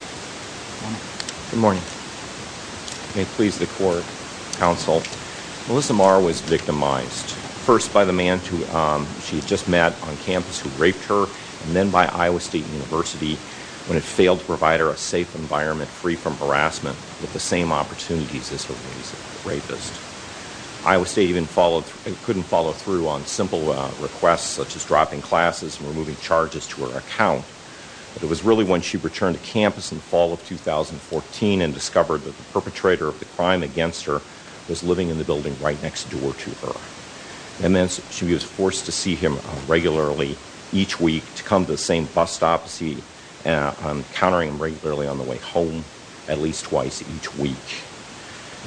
Good morning. May it please the court, counsel, Melissa Maher was victimized first by the man she had just met on campus who raped her and then by Iowa State University when it failed to provide her a safe environment free from harassment with the same opportunities as her rapist. Iowa State couldn't follow through on simple requests such as dropping classes and removing charges to her account. But it was really when she returned to campus in the fall of 2014 and discovered that the perpetrator of the crime against her was living in the building right next door to her. And then she was forced to see him regularly each week to come to the same bus stops, encountering him regularly on the way home at least twice each week.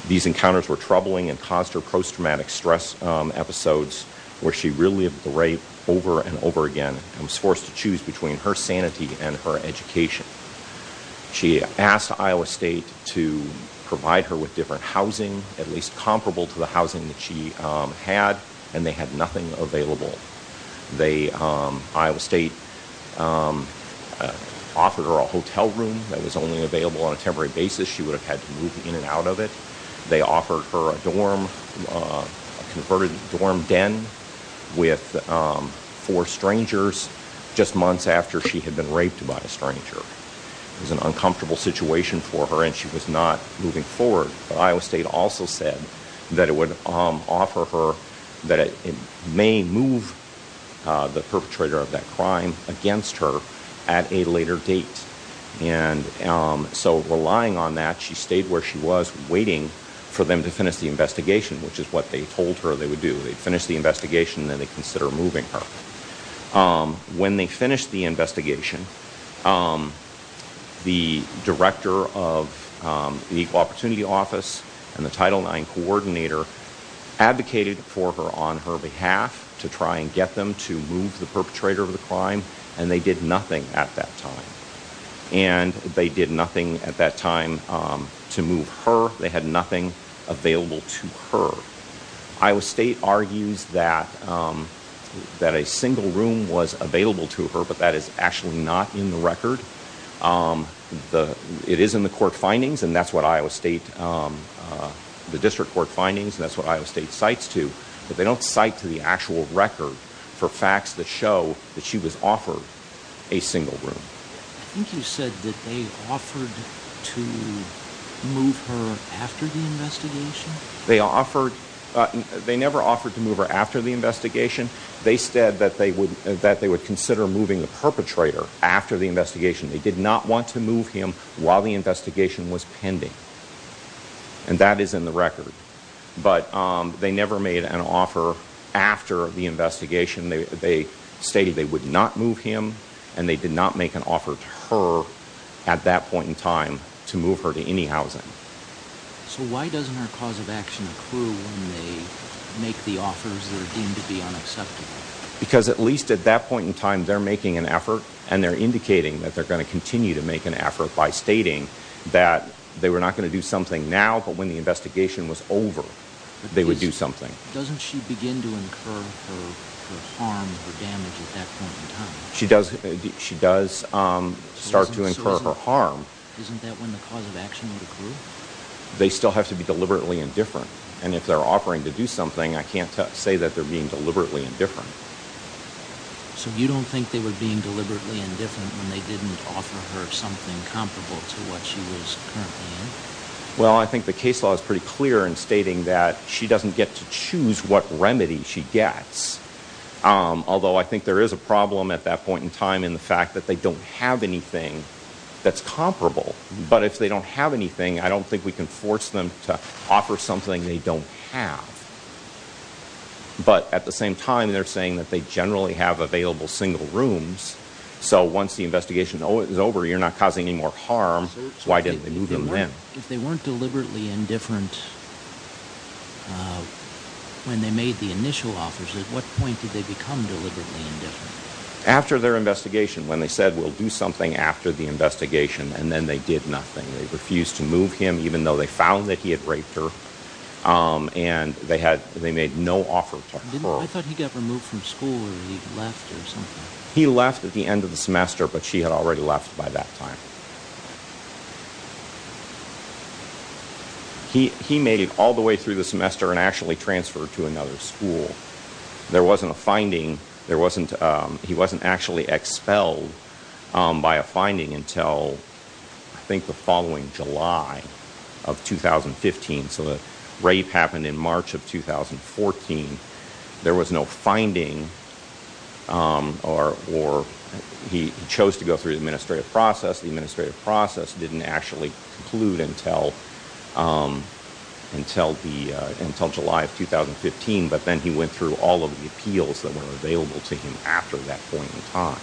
These encounters were troubling and caused her post-traumatic stress episodes where she relived the rape over and over again and was forced to choose between her sanity and her education. She asked Iowa State to provide her with different housing, at least comparable to the housing that she had, and they had nothing available. They, Iowa State offered her a hotel room that was only available on a temporary basis. She would have had to move in and out of it. They offered her a dorm, a converted dorm den with four strangers just months after she had been raped by a stranger. It was an uncomfortable situation for her and she was not moving forward. But Iowa State also said that it would offer her that it may move the perpetrator of that crime against her at a later date. And so relying on that, she stayed where she was waiting for them to finish the investigation, which is what they told her they would do. They'd finish the investigation and then they'd consider moving her. When they finished the investigation, the Director of the Equal Opportunity Office and the Title IX Coordinator advocated for her on her behalf to try and get them to move the perpetrator of the crime and they did nothing at that time. And they did nothing at that time to move her. They had nothing available to her. Iowa State argues that the single room was available to her, but that is actually not in the record. It is in the court findings and that's what Iowa State, the district court findings, that's what Iowa State cites to. But they don't cite to the actual record for facts that show that she was offered a single room. I think you said that they offered to move her after the investigation? They never offered to move her after the investigation. They said that they would consider moving the perpetrator after the investigation. They did not want to move him while the investigation was pending. And that is in the record. But they never made an offer after the investigation. They stated they would not move him and they did not make an offer to her at that point in time to move her to any housing. So why doesn't her cause of action accrue when they make the offers that are deemed to be unacceptable? Because at least at that point in time they're making an effort and they're indicating that they're going to continue to make an effort by stating that they were not going to do something now, but when the investigation was over they would do something. Doesn't she begin to incur her harm, her damage at that point in time? She does start to incur her harm. Isn't that when the cause of action would accrue? They still have to be deliberately indifferent. And if they're offering to do something I can't say that they're being deliberately indifferent. So you don't think they were being deliberately indifferent when they didn't offer her something comparable to what she was currently in? Well, I think the case law is pretty clear in stating that she doesn't get to choose what remedy she gets. Although I think there is a problem at that point in time in the fact that they don't have anything that's comparable. But if they don't have anything I don't think we can force them to offer something they don't have. But at the same time they're saying that they generally have available single rooms, so once the investigation is over you're not causing any more harm, so why didn't they move them in? If they weren't deliberately indifferent when they made the initial offers, at what point did they become deliberately indifferent? After their investigation, when they said we'll do something after the investigation and then they did nothing. They refused to move him even though they found that he had raped her. And they had, they made no offer to her. I thought he got removed from school or he left or something. He left at the end of the semester but she had already left by that time. He made it all the way through the semester and actually transferred to another school. There wasn't a finding, there wasn't, he wasn't actually expelled by a finding until I think the following July of 2015. So the rape happened in March of 2015. The administrative process didn't actually conclude until July of 2015 but then he went through all of the appeals that were available to him after that point in time.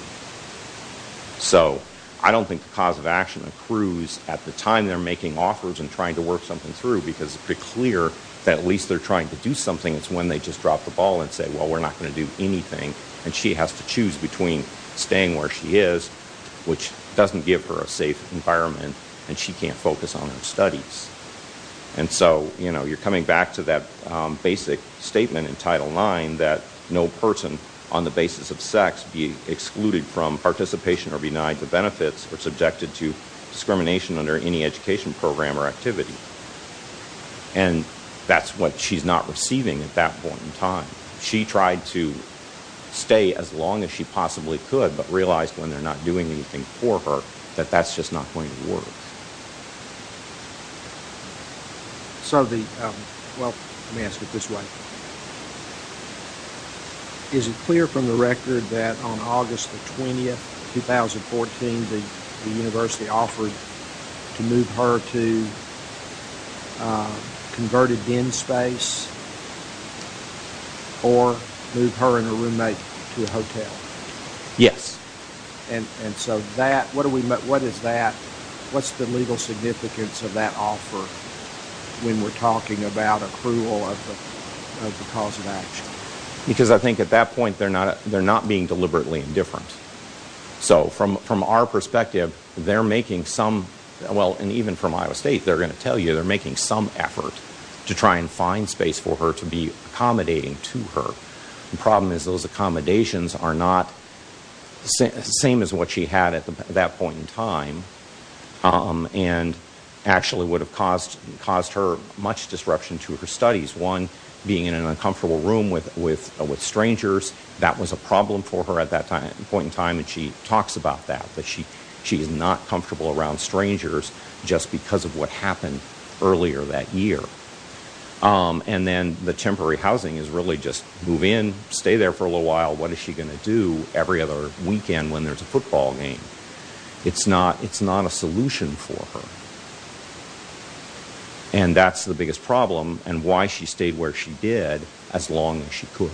So I don't think the cause of action accrues at the time they're making offers and trying to work something through because it's pretty clear that at least they're trying to do something. It's when they just drop the ball and say well we're not going to do anything and she has to choose between staying where she is which doesn't give her a safe environment and she can't focus on her studies. And so, you know, you're coming back to that basic statement in Title IX that no person on the basis of sex be excluded from participation or be denied the benefits or subjected to discrimination under any education program or activity. And that's what she's not receiving at that point in time. She tried to stay as long as she possibly could but realized when they're not doing anything for her that that's just not going to work. So the, well, let me ask it this way. Is it clear from the record that on August the 20th, 2014, the university offered to move her to converted den space or move her and her roommate to a hotel? Yes. And so that, what is that, what's the legal significance of that offer when we're talking about accrual of the cause of action? Because I think at that point they're not being deliberately indifferent. So from our perspective, they're making some, well, and even from Iowa State, they're going to tell you they're making some effort to try and find space for her to be accommodating to her. The problem is those accommodations are not the same as what she had at that point in time and actually would have caused her much disruption to her studies. One, being in an uncomfortable room with students and strangers, that was a problem for her at that point in time and she talks about that. But she's not comfortable around strangers just because of what happened earlier that year. And then the temporary housing is really just move in, stay there for a little while, what is she going to do every other weekend when there's a football game? It's not a solution for her. And that's the biggest problem and why she stayed where she did as long as she could.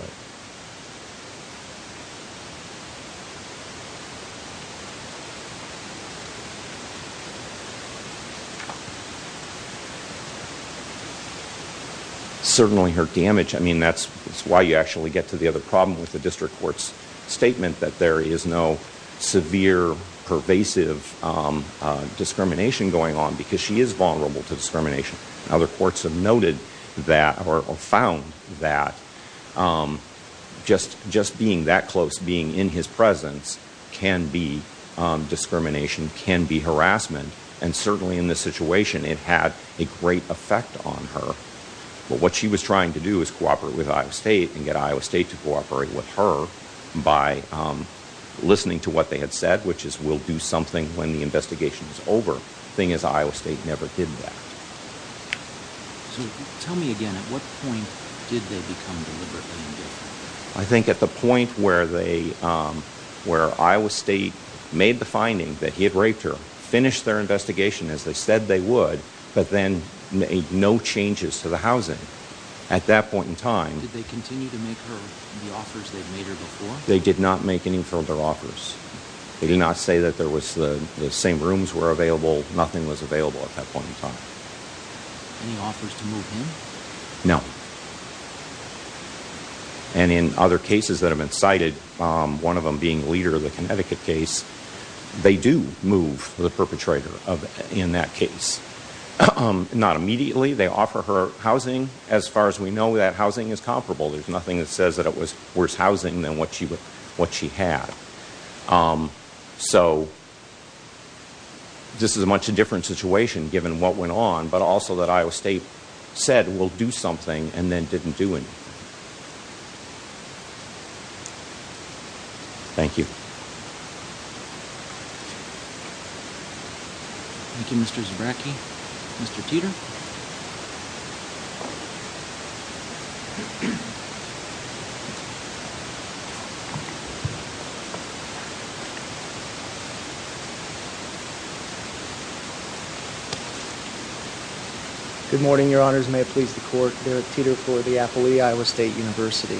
Certainly her damage, I mean, that's why you actually get to the other problem with the district court's statement that there is no severe pervasive discrimination going on because she is vulnerable to discrimination. Other courts have noted that or found that just being that close, being in his presence, can be discrimination, can be harassment and certainly in this situation it had a great effect on her. But what she was trying to do is cooperate with Iowa State and get Iowa State to cooperate with her by listening to what they had said, which is we'll do something when the investigation is over. Thing is, Iowa State never did that. So tell me again, at what point did they become deliberately engaged? I think at the point where they, where Iowa State made the finding that he had raped her, finished their investigation as they said they would, but then made no changes to the housing. At that point in time. Did they continue to make her the offers they'd made her before? They did not make any further offers. They did not say that there was, the same rooms were available, nothing was available at that point in time. Any offers to move him? No. And in other cases that have been cited, one of them being Leder, the Connecticut case, they do move the perpetrator in that case. Not immediately, they offer her housing. As far as we know, that housing is comparable. There's nothing that says that it was worse housing than what she had. So this is a much different situation given what went on, but also that Iowa State said we'll do something and then didn't do anything. Thank you. Thank you, Mr. Zabracki. Mr. Teeter? Good morning, your honors. May it please the court, Derek Teeter for the Appley Iowa State University.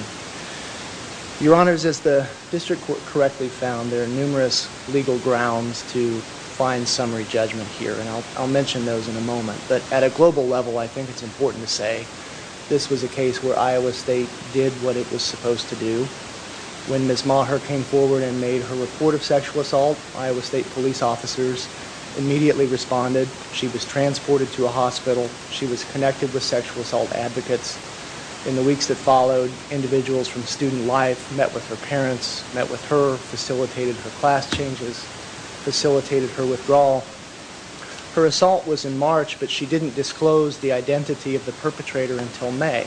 Your honors, as the district court correctly found, there are numerous legal grounds to find summary judgment here, and I'll mention those in a moment. But at a global level, I think it's important to say this was a case where Iowa State did what it was supposed to do. When Ms. Maher came forward and made her report of sexual assault, Iowa State police officers immediately responded. She was transported to a hospital. She was student life, met with her parents, met with her, facilitated her class changes, facilitated her withdrawal. Her assault was in March, but she didn't disclose the identity of the perpetrator until May,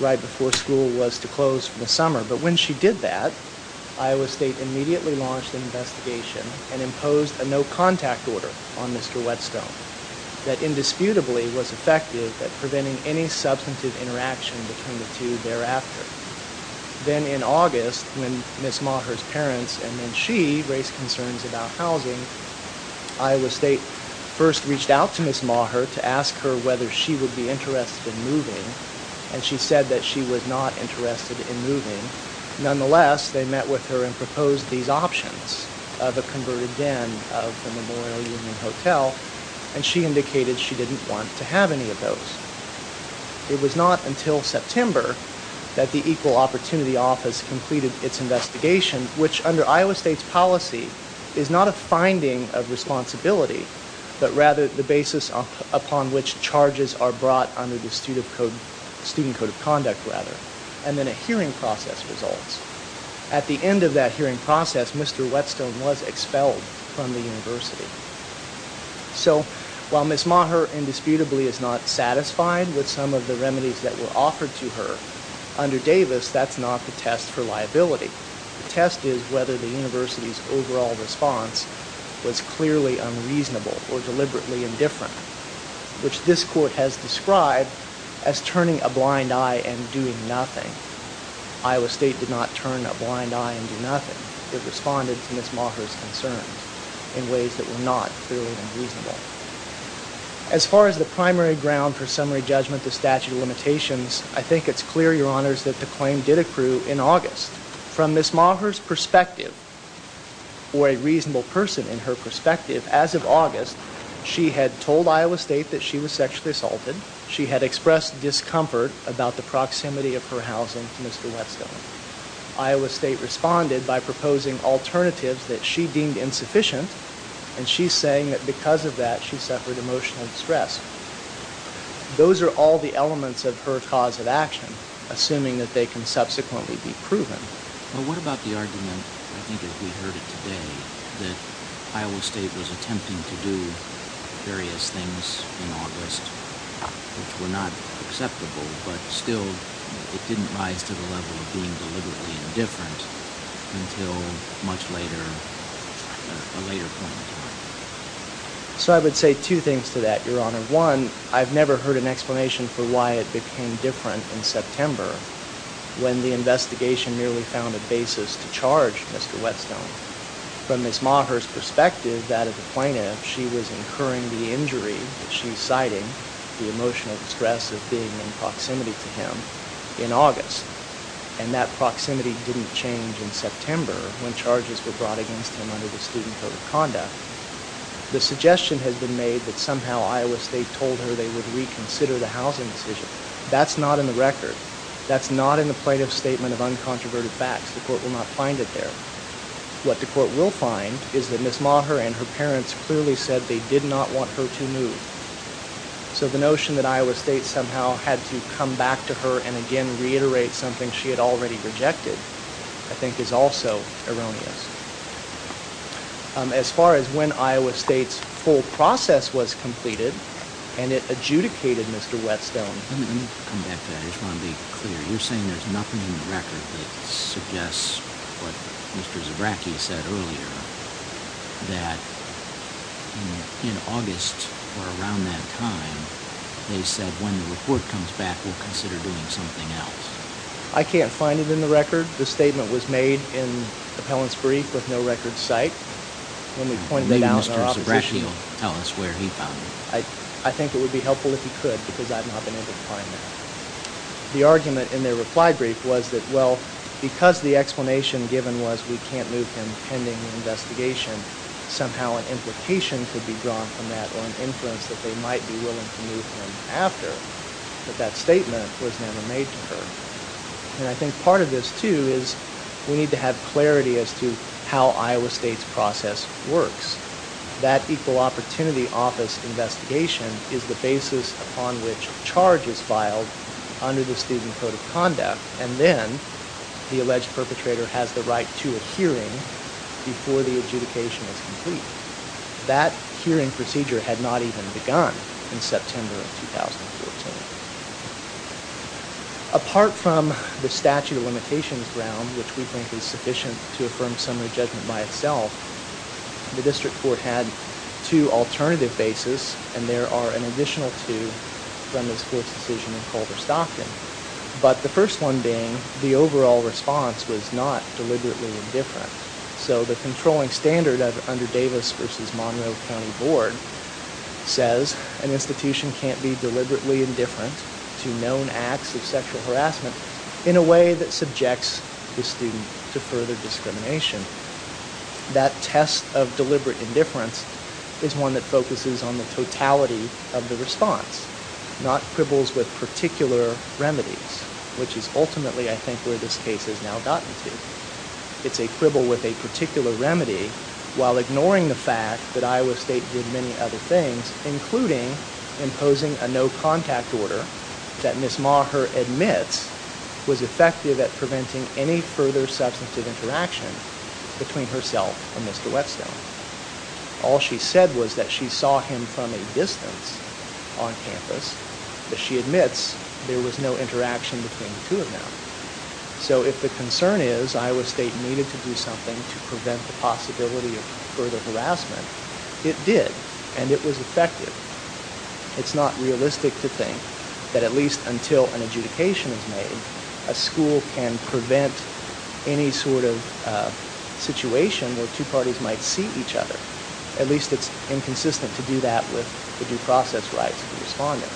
right before school was to close for the summer. But when she did that, Iowa State immediately launched an investigation and imposed a no-contact order on Mr. Whetstone that indisputably was effective at preventing any substantive interaction between the two thereafter. Then in August, when Ms. Maher's parents and then she raised concerns about housing, Iowa State first reached out to Ms. Maher to ask her whether she would be interested in moving, and she said that she was not interested in moving. Nonetheless, they met with her and proposed these options of a converted den of the Memorial Union Hotel, and she indicated she didn't want to have any of those. It was not until September that the Equal Opportunity Office completed its investigation, which under Iowa State's policy is not a finding of responsibility, but rather the basis upon which charges are brought under the Student Code of Conduct, and then a hearing process results. At the end of that hearing process, Mr. Whetstone was expelled from the university. So, while Ms. Maher indisputably is not satisfied with some of the remedies that were offered to her, under Davis that's not the test for liability. The test is whether the university's overall response was clearly unreasonable or deliberately indifferent, which this court has described as turning a blind eye and doing nothing. Iowa State did not turn a blind eye and do nothing. It responded to Ms. Maher's concerns in ways that were not clearly unreasonable. As far as the primary ground for summary judgment of statute of limitations, I think it's clear, Your Honors, that the claim did accrue in August. From Ms. Maher's perspective, or a reasonable person in her perspective, as of August, she had told Iowa State that she was discomfort about the proximity of her housing to Mr. Whetstone. Iowa State responded by proposing alternatives that she deemed insufficient, and she's saying that because of that she suffered emotional distress. Those are all the elements of her cause of action, assuming that they can subsequently be proven. Well, what about the argument, I think as we heard it today, that Iowa State was attempting to do various things in August which were not acceptable, but still it didn't rise to the level of being deliberately indifferent until much later, a later point in time? So I would say two things to that, Your Honor. One, I've never heard an explanation for why it became different in September when the investigation nearly found a basis to charge Mr. Whetstone. From Ms. Maher's perspective, that of the plaintiff, she was incurring the injury that she's citing, the emotional distress of being in proximity to him, in August. And that proximity didn't change in September when charges were brought against him under the Student Code of Conduct. The suggestion has been made that somehow Iowa State told her they would reconsider the housing decision. That's not in the record. That's not in the record. What the court will find is that Ms. Maher and her parents clearly said they did not want her to move. So the notion that Iowa State somehow had to come back to her and again reiterate something she had already rejected, I think is also erroneous. As far as when Iowa State's full process was completed, and it adjudicated Mr. Whetstone... Let me come back to that. I just want to be clear. You're saying there's nothing in the record that Mr. Zabracki said earlier that in August or around that time, they said when the report comes back, we'll consider doing something else. I can't find it in the record. The statement was made in the appellant's brief with no record cite. Maybe Mr. Zabracki will tell us where he found it. I think it would be helpful if he could, because I've not been able to find that. The argument in their reply brief was that, well, because the explanation given was we can't move him pending the investigation, somehow an implication could be drawn from that or an inference that they might be willing to move him after. But that statement was never made to her. And I think part of this, too, is we need to have clarity as to how Iowa State's process works. That Equal Opportunity Office investigation is the basis upon which a charge is filed under the Student Code of Conduct. And then the alleged perpetrator has the right to a hearing before the adjudication is complete. That hearing procedure had not even begun in September of 2014. Apart from the statute of limitations ground, which we think is sufficient to affirm summary judgment by itself, the district court had two alternative bases, and there are an The first one being the overall response was not deliberately indifferent. So the controlling standard under Davis v. Monroe County Board says an institution can't be deliberately indifferent to known acts of sexual harassment in a way that subjects the student to further discrimination. That test of deliberate indifference is one that focuses on the totality of the case and is ultimately, I think, where this case has now gotten to. It's a quibble with a particular remedy while ignoring the fact that Iowa State did many other things, including imposing a no-contact order that Ms. Maher admits was effective at preventing any further substantive interaction between herself and Mr. Whetstone. All she said was that she saw him from a distance on campus, but she admits there was no interaction between the two of them. So if the concern is Iowa State needed to do something to prevent the possibility of further harassment, it did, and it was effective. It's not realistic to think that at least until an adjudication is made, a school can prevent any sort of situation where two parties might see each other. At least it's inconsistent to do that with the due process rights of the respondent,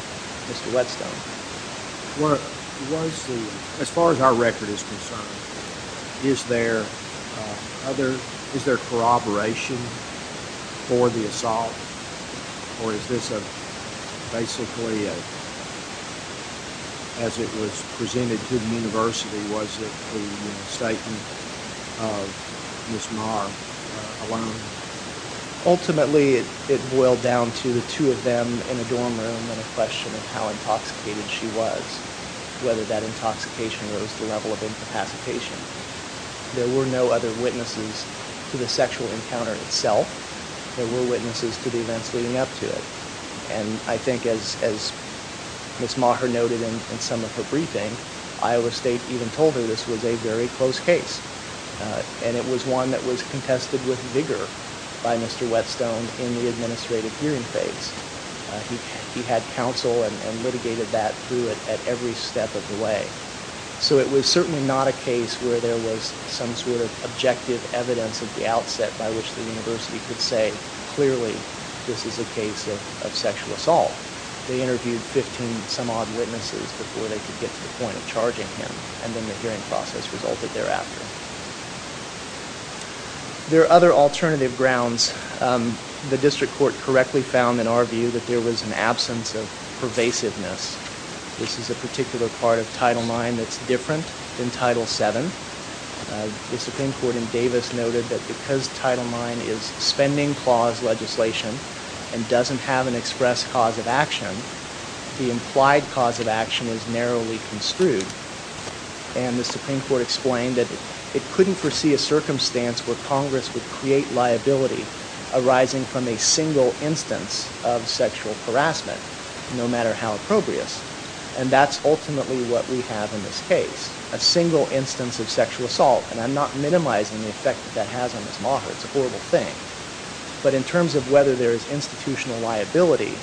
Mr. Whetstone. As far as our record is concerned, is there corroboration for the assault? Or is this basically, as it was presented to the university, was it the incitement of Ms. Maher alone? Ultimately, it boiled down to the two of them in a dorm room and a question of how intoxicated she was, whether that intoxication was the level of incapacitation. There were no other events leading up to it. And I think as Ms. Maher noted in some of her briefing, Iowa State even told her this was a very close case. And it was one that was contested with vigor by Mr. Whetstone in the administrative hearing phase. He had counsel and litigated that through it at every step of the way. So it was certainly not a case where there was some sort of objective evidence at the time that this is a case of sexual assault. They interviewed 15 and some odd witnesses before they could get to the point of charging him. And then the hearing process resulted thereafter. There are other alternative grounds. The district court correctly found in our view that there was an absence of pervasiveness. This is a particular part of Title IX that's different than Title VII. The Supreme Court in Davis noted that because Title IX is spending clause legislation and doesn't have an express cause of action, the implied cause of action was narrowly construed. And the Supreme Court explained that it couldn't foresee a circumstance where Congress would create liability arising from a single instance of sexual harassment, no matter how probrious. And that's ultimately what we have in this case, a single instance of sexual assault. And I'm not minimizing the effect that has on Ms. Maher. It's a In terms of whether there is institutional liability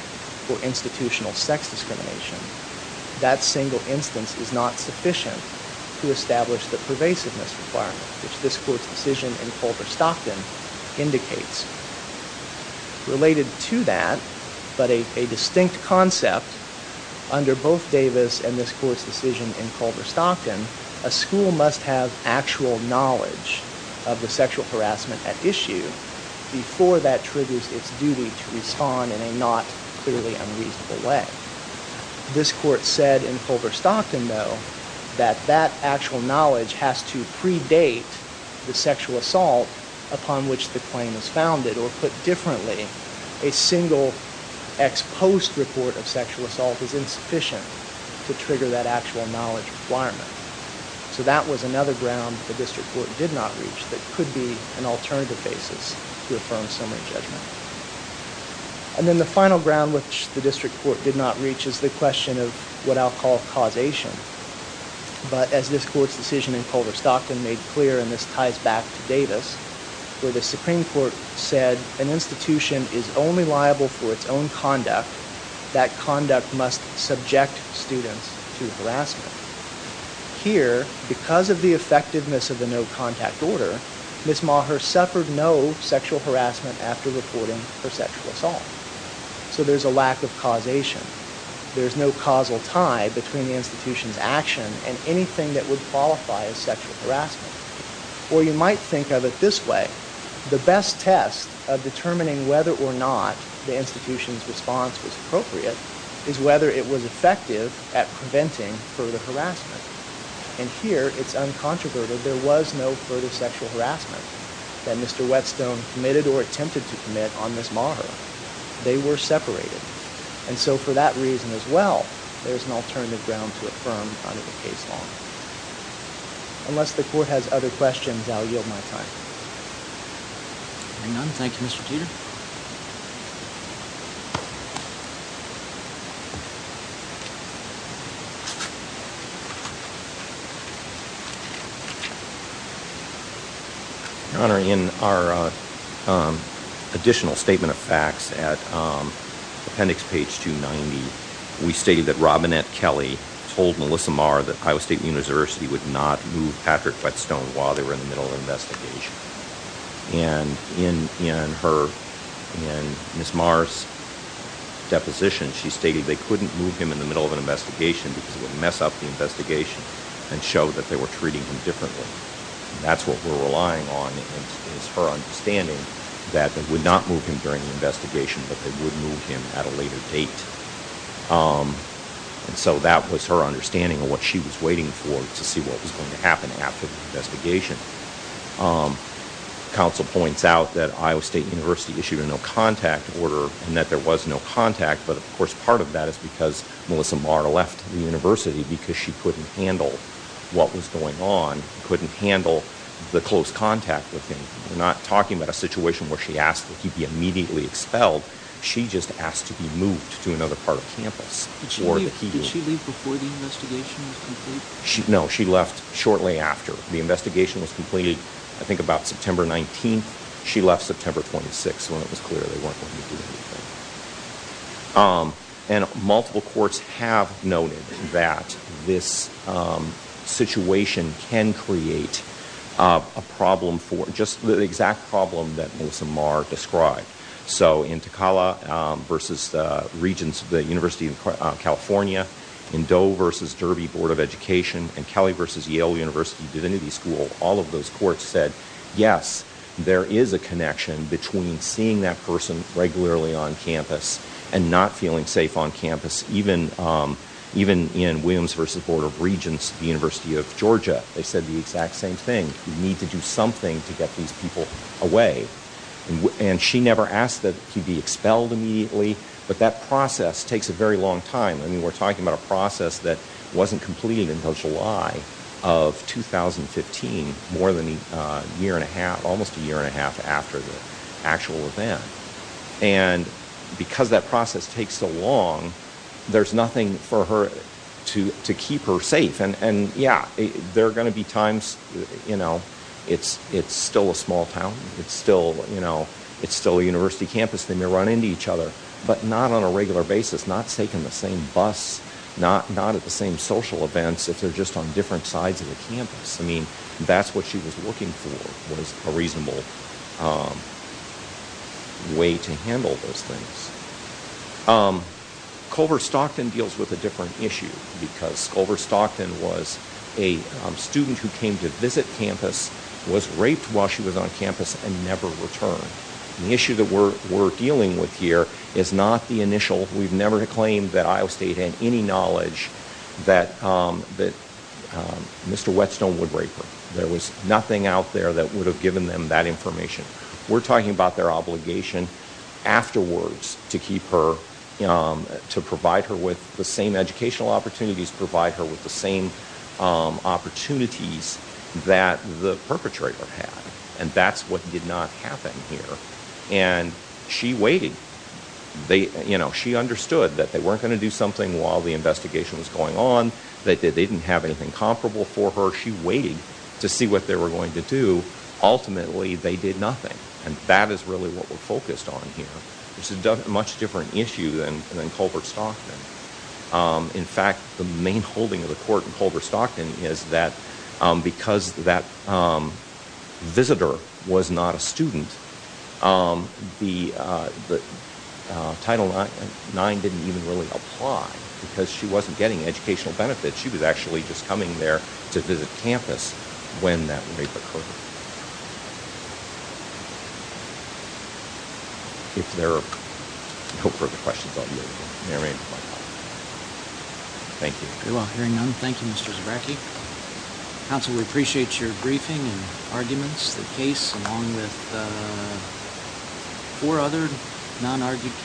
or institutional sex discrimination, that single instance is not sufficient to establish the pervasiveness requirement, which this Court's decision in Culver-Stockton indicates. Related to that, but a distinct concept, under both Davis and this Court's decision in Culver-Stockton, a school must have actual knowledge of the sexual harassment at issue before that triggers its duty to respond in a not clearly unreasonable way. This Court said in Culver-Stockton, though, that that actual knowledge has to predate the sexual assault upon which the claim is founded, or put differently, a single ex post report of sexual assault is insufficient to trigger that actual knowledge requirement. So that was another ground the District Court did not reach that could be an alternative basis to affirm summary judgment. And then the final ground which the District Court did not reach is the question of what I'll call causation. But as this Court's decision in Culver-Stockton made clear, and this ties back to Davis, where the Supreme Court said an institution is only liable for its own Here, because of the effectiveness of the no-contact order, Ms. Maher suffered no sexual harassment after reporting her sexual assault. So there's a lack of causation. There's no causal tie between the institution's action and anything that would qualify as sexual harassment. Or you might think of it this way. The best test of determining whether or not the institution's And here, it's uncontroverted, there was no further sexual harassment that Mr. Whetstone committed or attempted to commit on Ms. Maher. They were separated. And so for that reason as well, there's an alternative ground to affirm under the case law. Unless the Court has other questions, I'll yield my time. Any none? Thank you, Mr. Teeter. Your Honor, in our additional Statement of Facts at appendix page 290, we stated that Robinette Kelly told Melissa Maher that Iowa State University would not move Patrick Whetstone while they were in the middle of an investigation. And in Ms. Maher's deposition, she stated they couldn't move him in the middle of an investigation because it would mess up the investigation and show that they were treating him differently. That's what we're relying on is her understanding that they would not move him during the investigation, but they would move him at a later date. And so that was her understanding of what she was waiting for to see what was going to happen after the investigation. The counsel points out that Iowa State University issued a no-contact order and that there was no contact, but of course part of that is because Melissa Maher left the university because she couldn't handle what was going on, couldn't handle the close contact with him. We're not talking about a situation where she asked that he be immediately expelled. She just asked to be moved to another part of campus. Did she leave before the investigation was completed? No, she left shortly after the investigation was completed. I think about September 19th. She left September 26th when it was clear they weren't going to do anything. And multiple courts have noted that this situation can create a problem for, just the exact problem that Melissa Maher described. So in Takala versus the Regents of the University of California, in Doe versus Derby Board of Education, and Kelly versus Yale University Divinity School, all of those courts said yes, there is a connection between seeing that person regularly on campus and not feeling safe on campus. Even in Williams versus Board of Regents, the University of Georgia, they said the exact same thing. We need to do something to get these people away. And she never asked that he be expelled immediately, but that process takes a very long time. I mean, we're talking about a process that wasn't completed until July of 2015, more than a year and a half, almost a year and a half after the actual event. And because that process takes so long, there's nothing for her to keep her safe. And yeah, there are gonna be times, you know, it's still a small town, it's still a university campus, they may run into each other, but not on a regular basis, not taking the same bus, not at the same social events, if they're just on different sides of the campus. I mean, that's what she was looking for was a reasonable way to handle those things. Culver-Stockton deals with a different issue because Culver-Stockton was a student who came to visit campus, was raped while she was on campus, and never returned. The issue that we're dealing with here is not the initial, we've never claimed that Iowa State had any knowledge that Mr. Whetstone would rape her. There was nothing out there that would have given them that information. We're talking about their obligation afterwards to keep her, to provide her with the same educational opportunities, provide her with the same opportunities that the perpetrator had. And that's what did not happen here. And she waited. She understood that they weren't gonna do something while the investigation was going on, that they didn't have anything comparable for her, she waited to see what they were going to do. Ultimately, they did nothing. And that is really what we're focused on here. It's a much different issue than Culver-Stockton. In fact, the main holding of the court in Culver-Stockton is that because that visitor was not a student, the Title IX didn't even really apply because she wasn't getting educational benefits. She was actually just coming there to visit campus when that rape occurred. If there are no further questions, I'll be open. Thank you.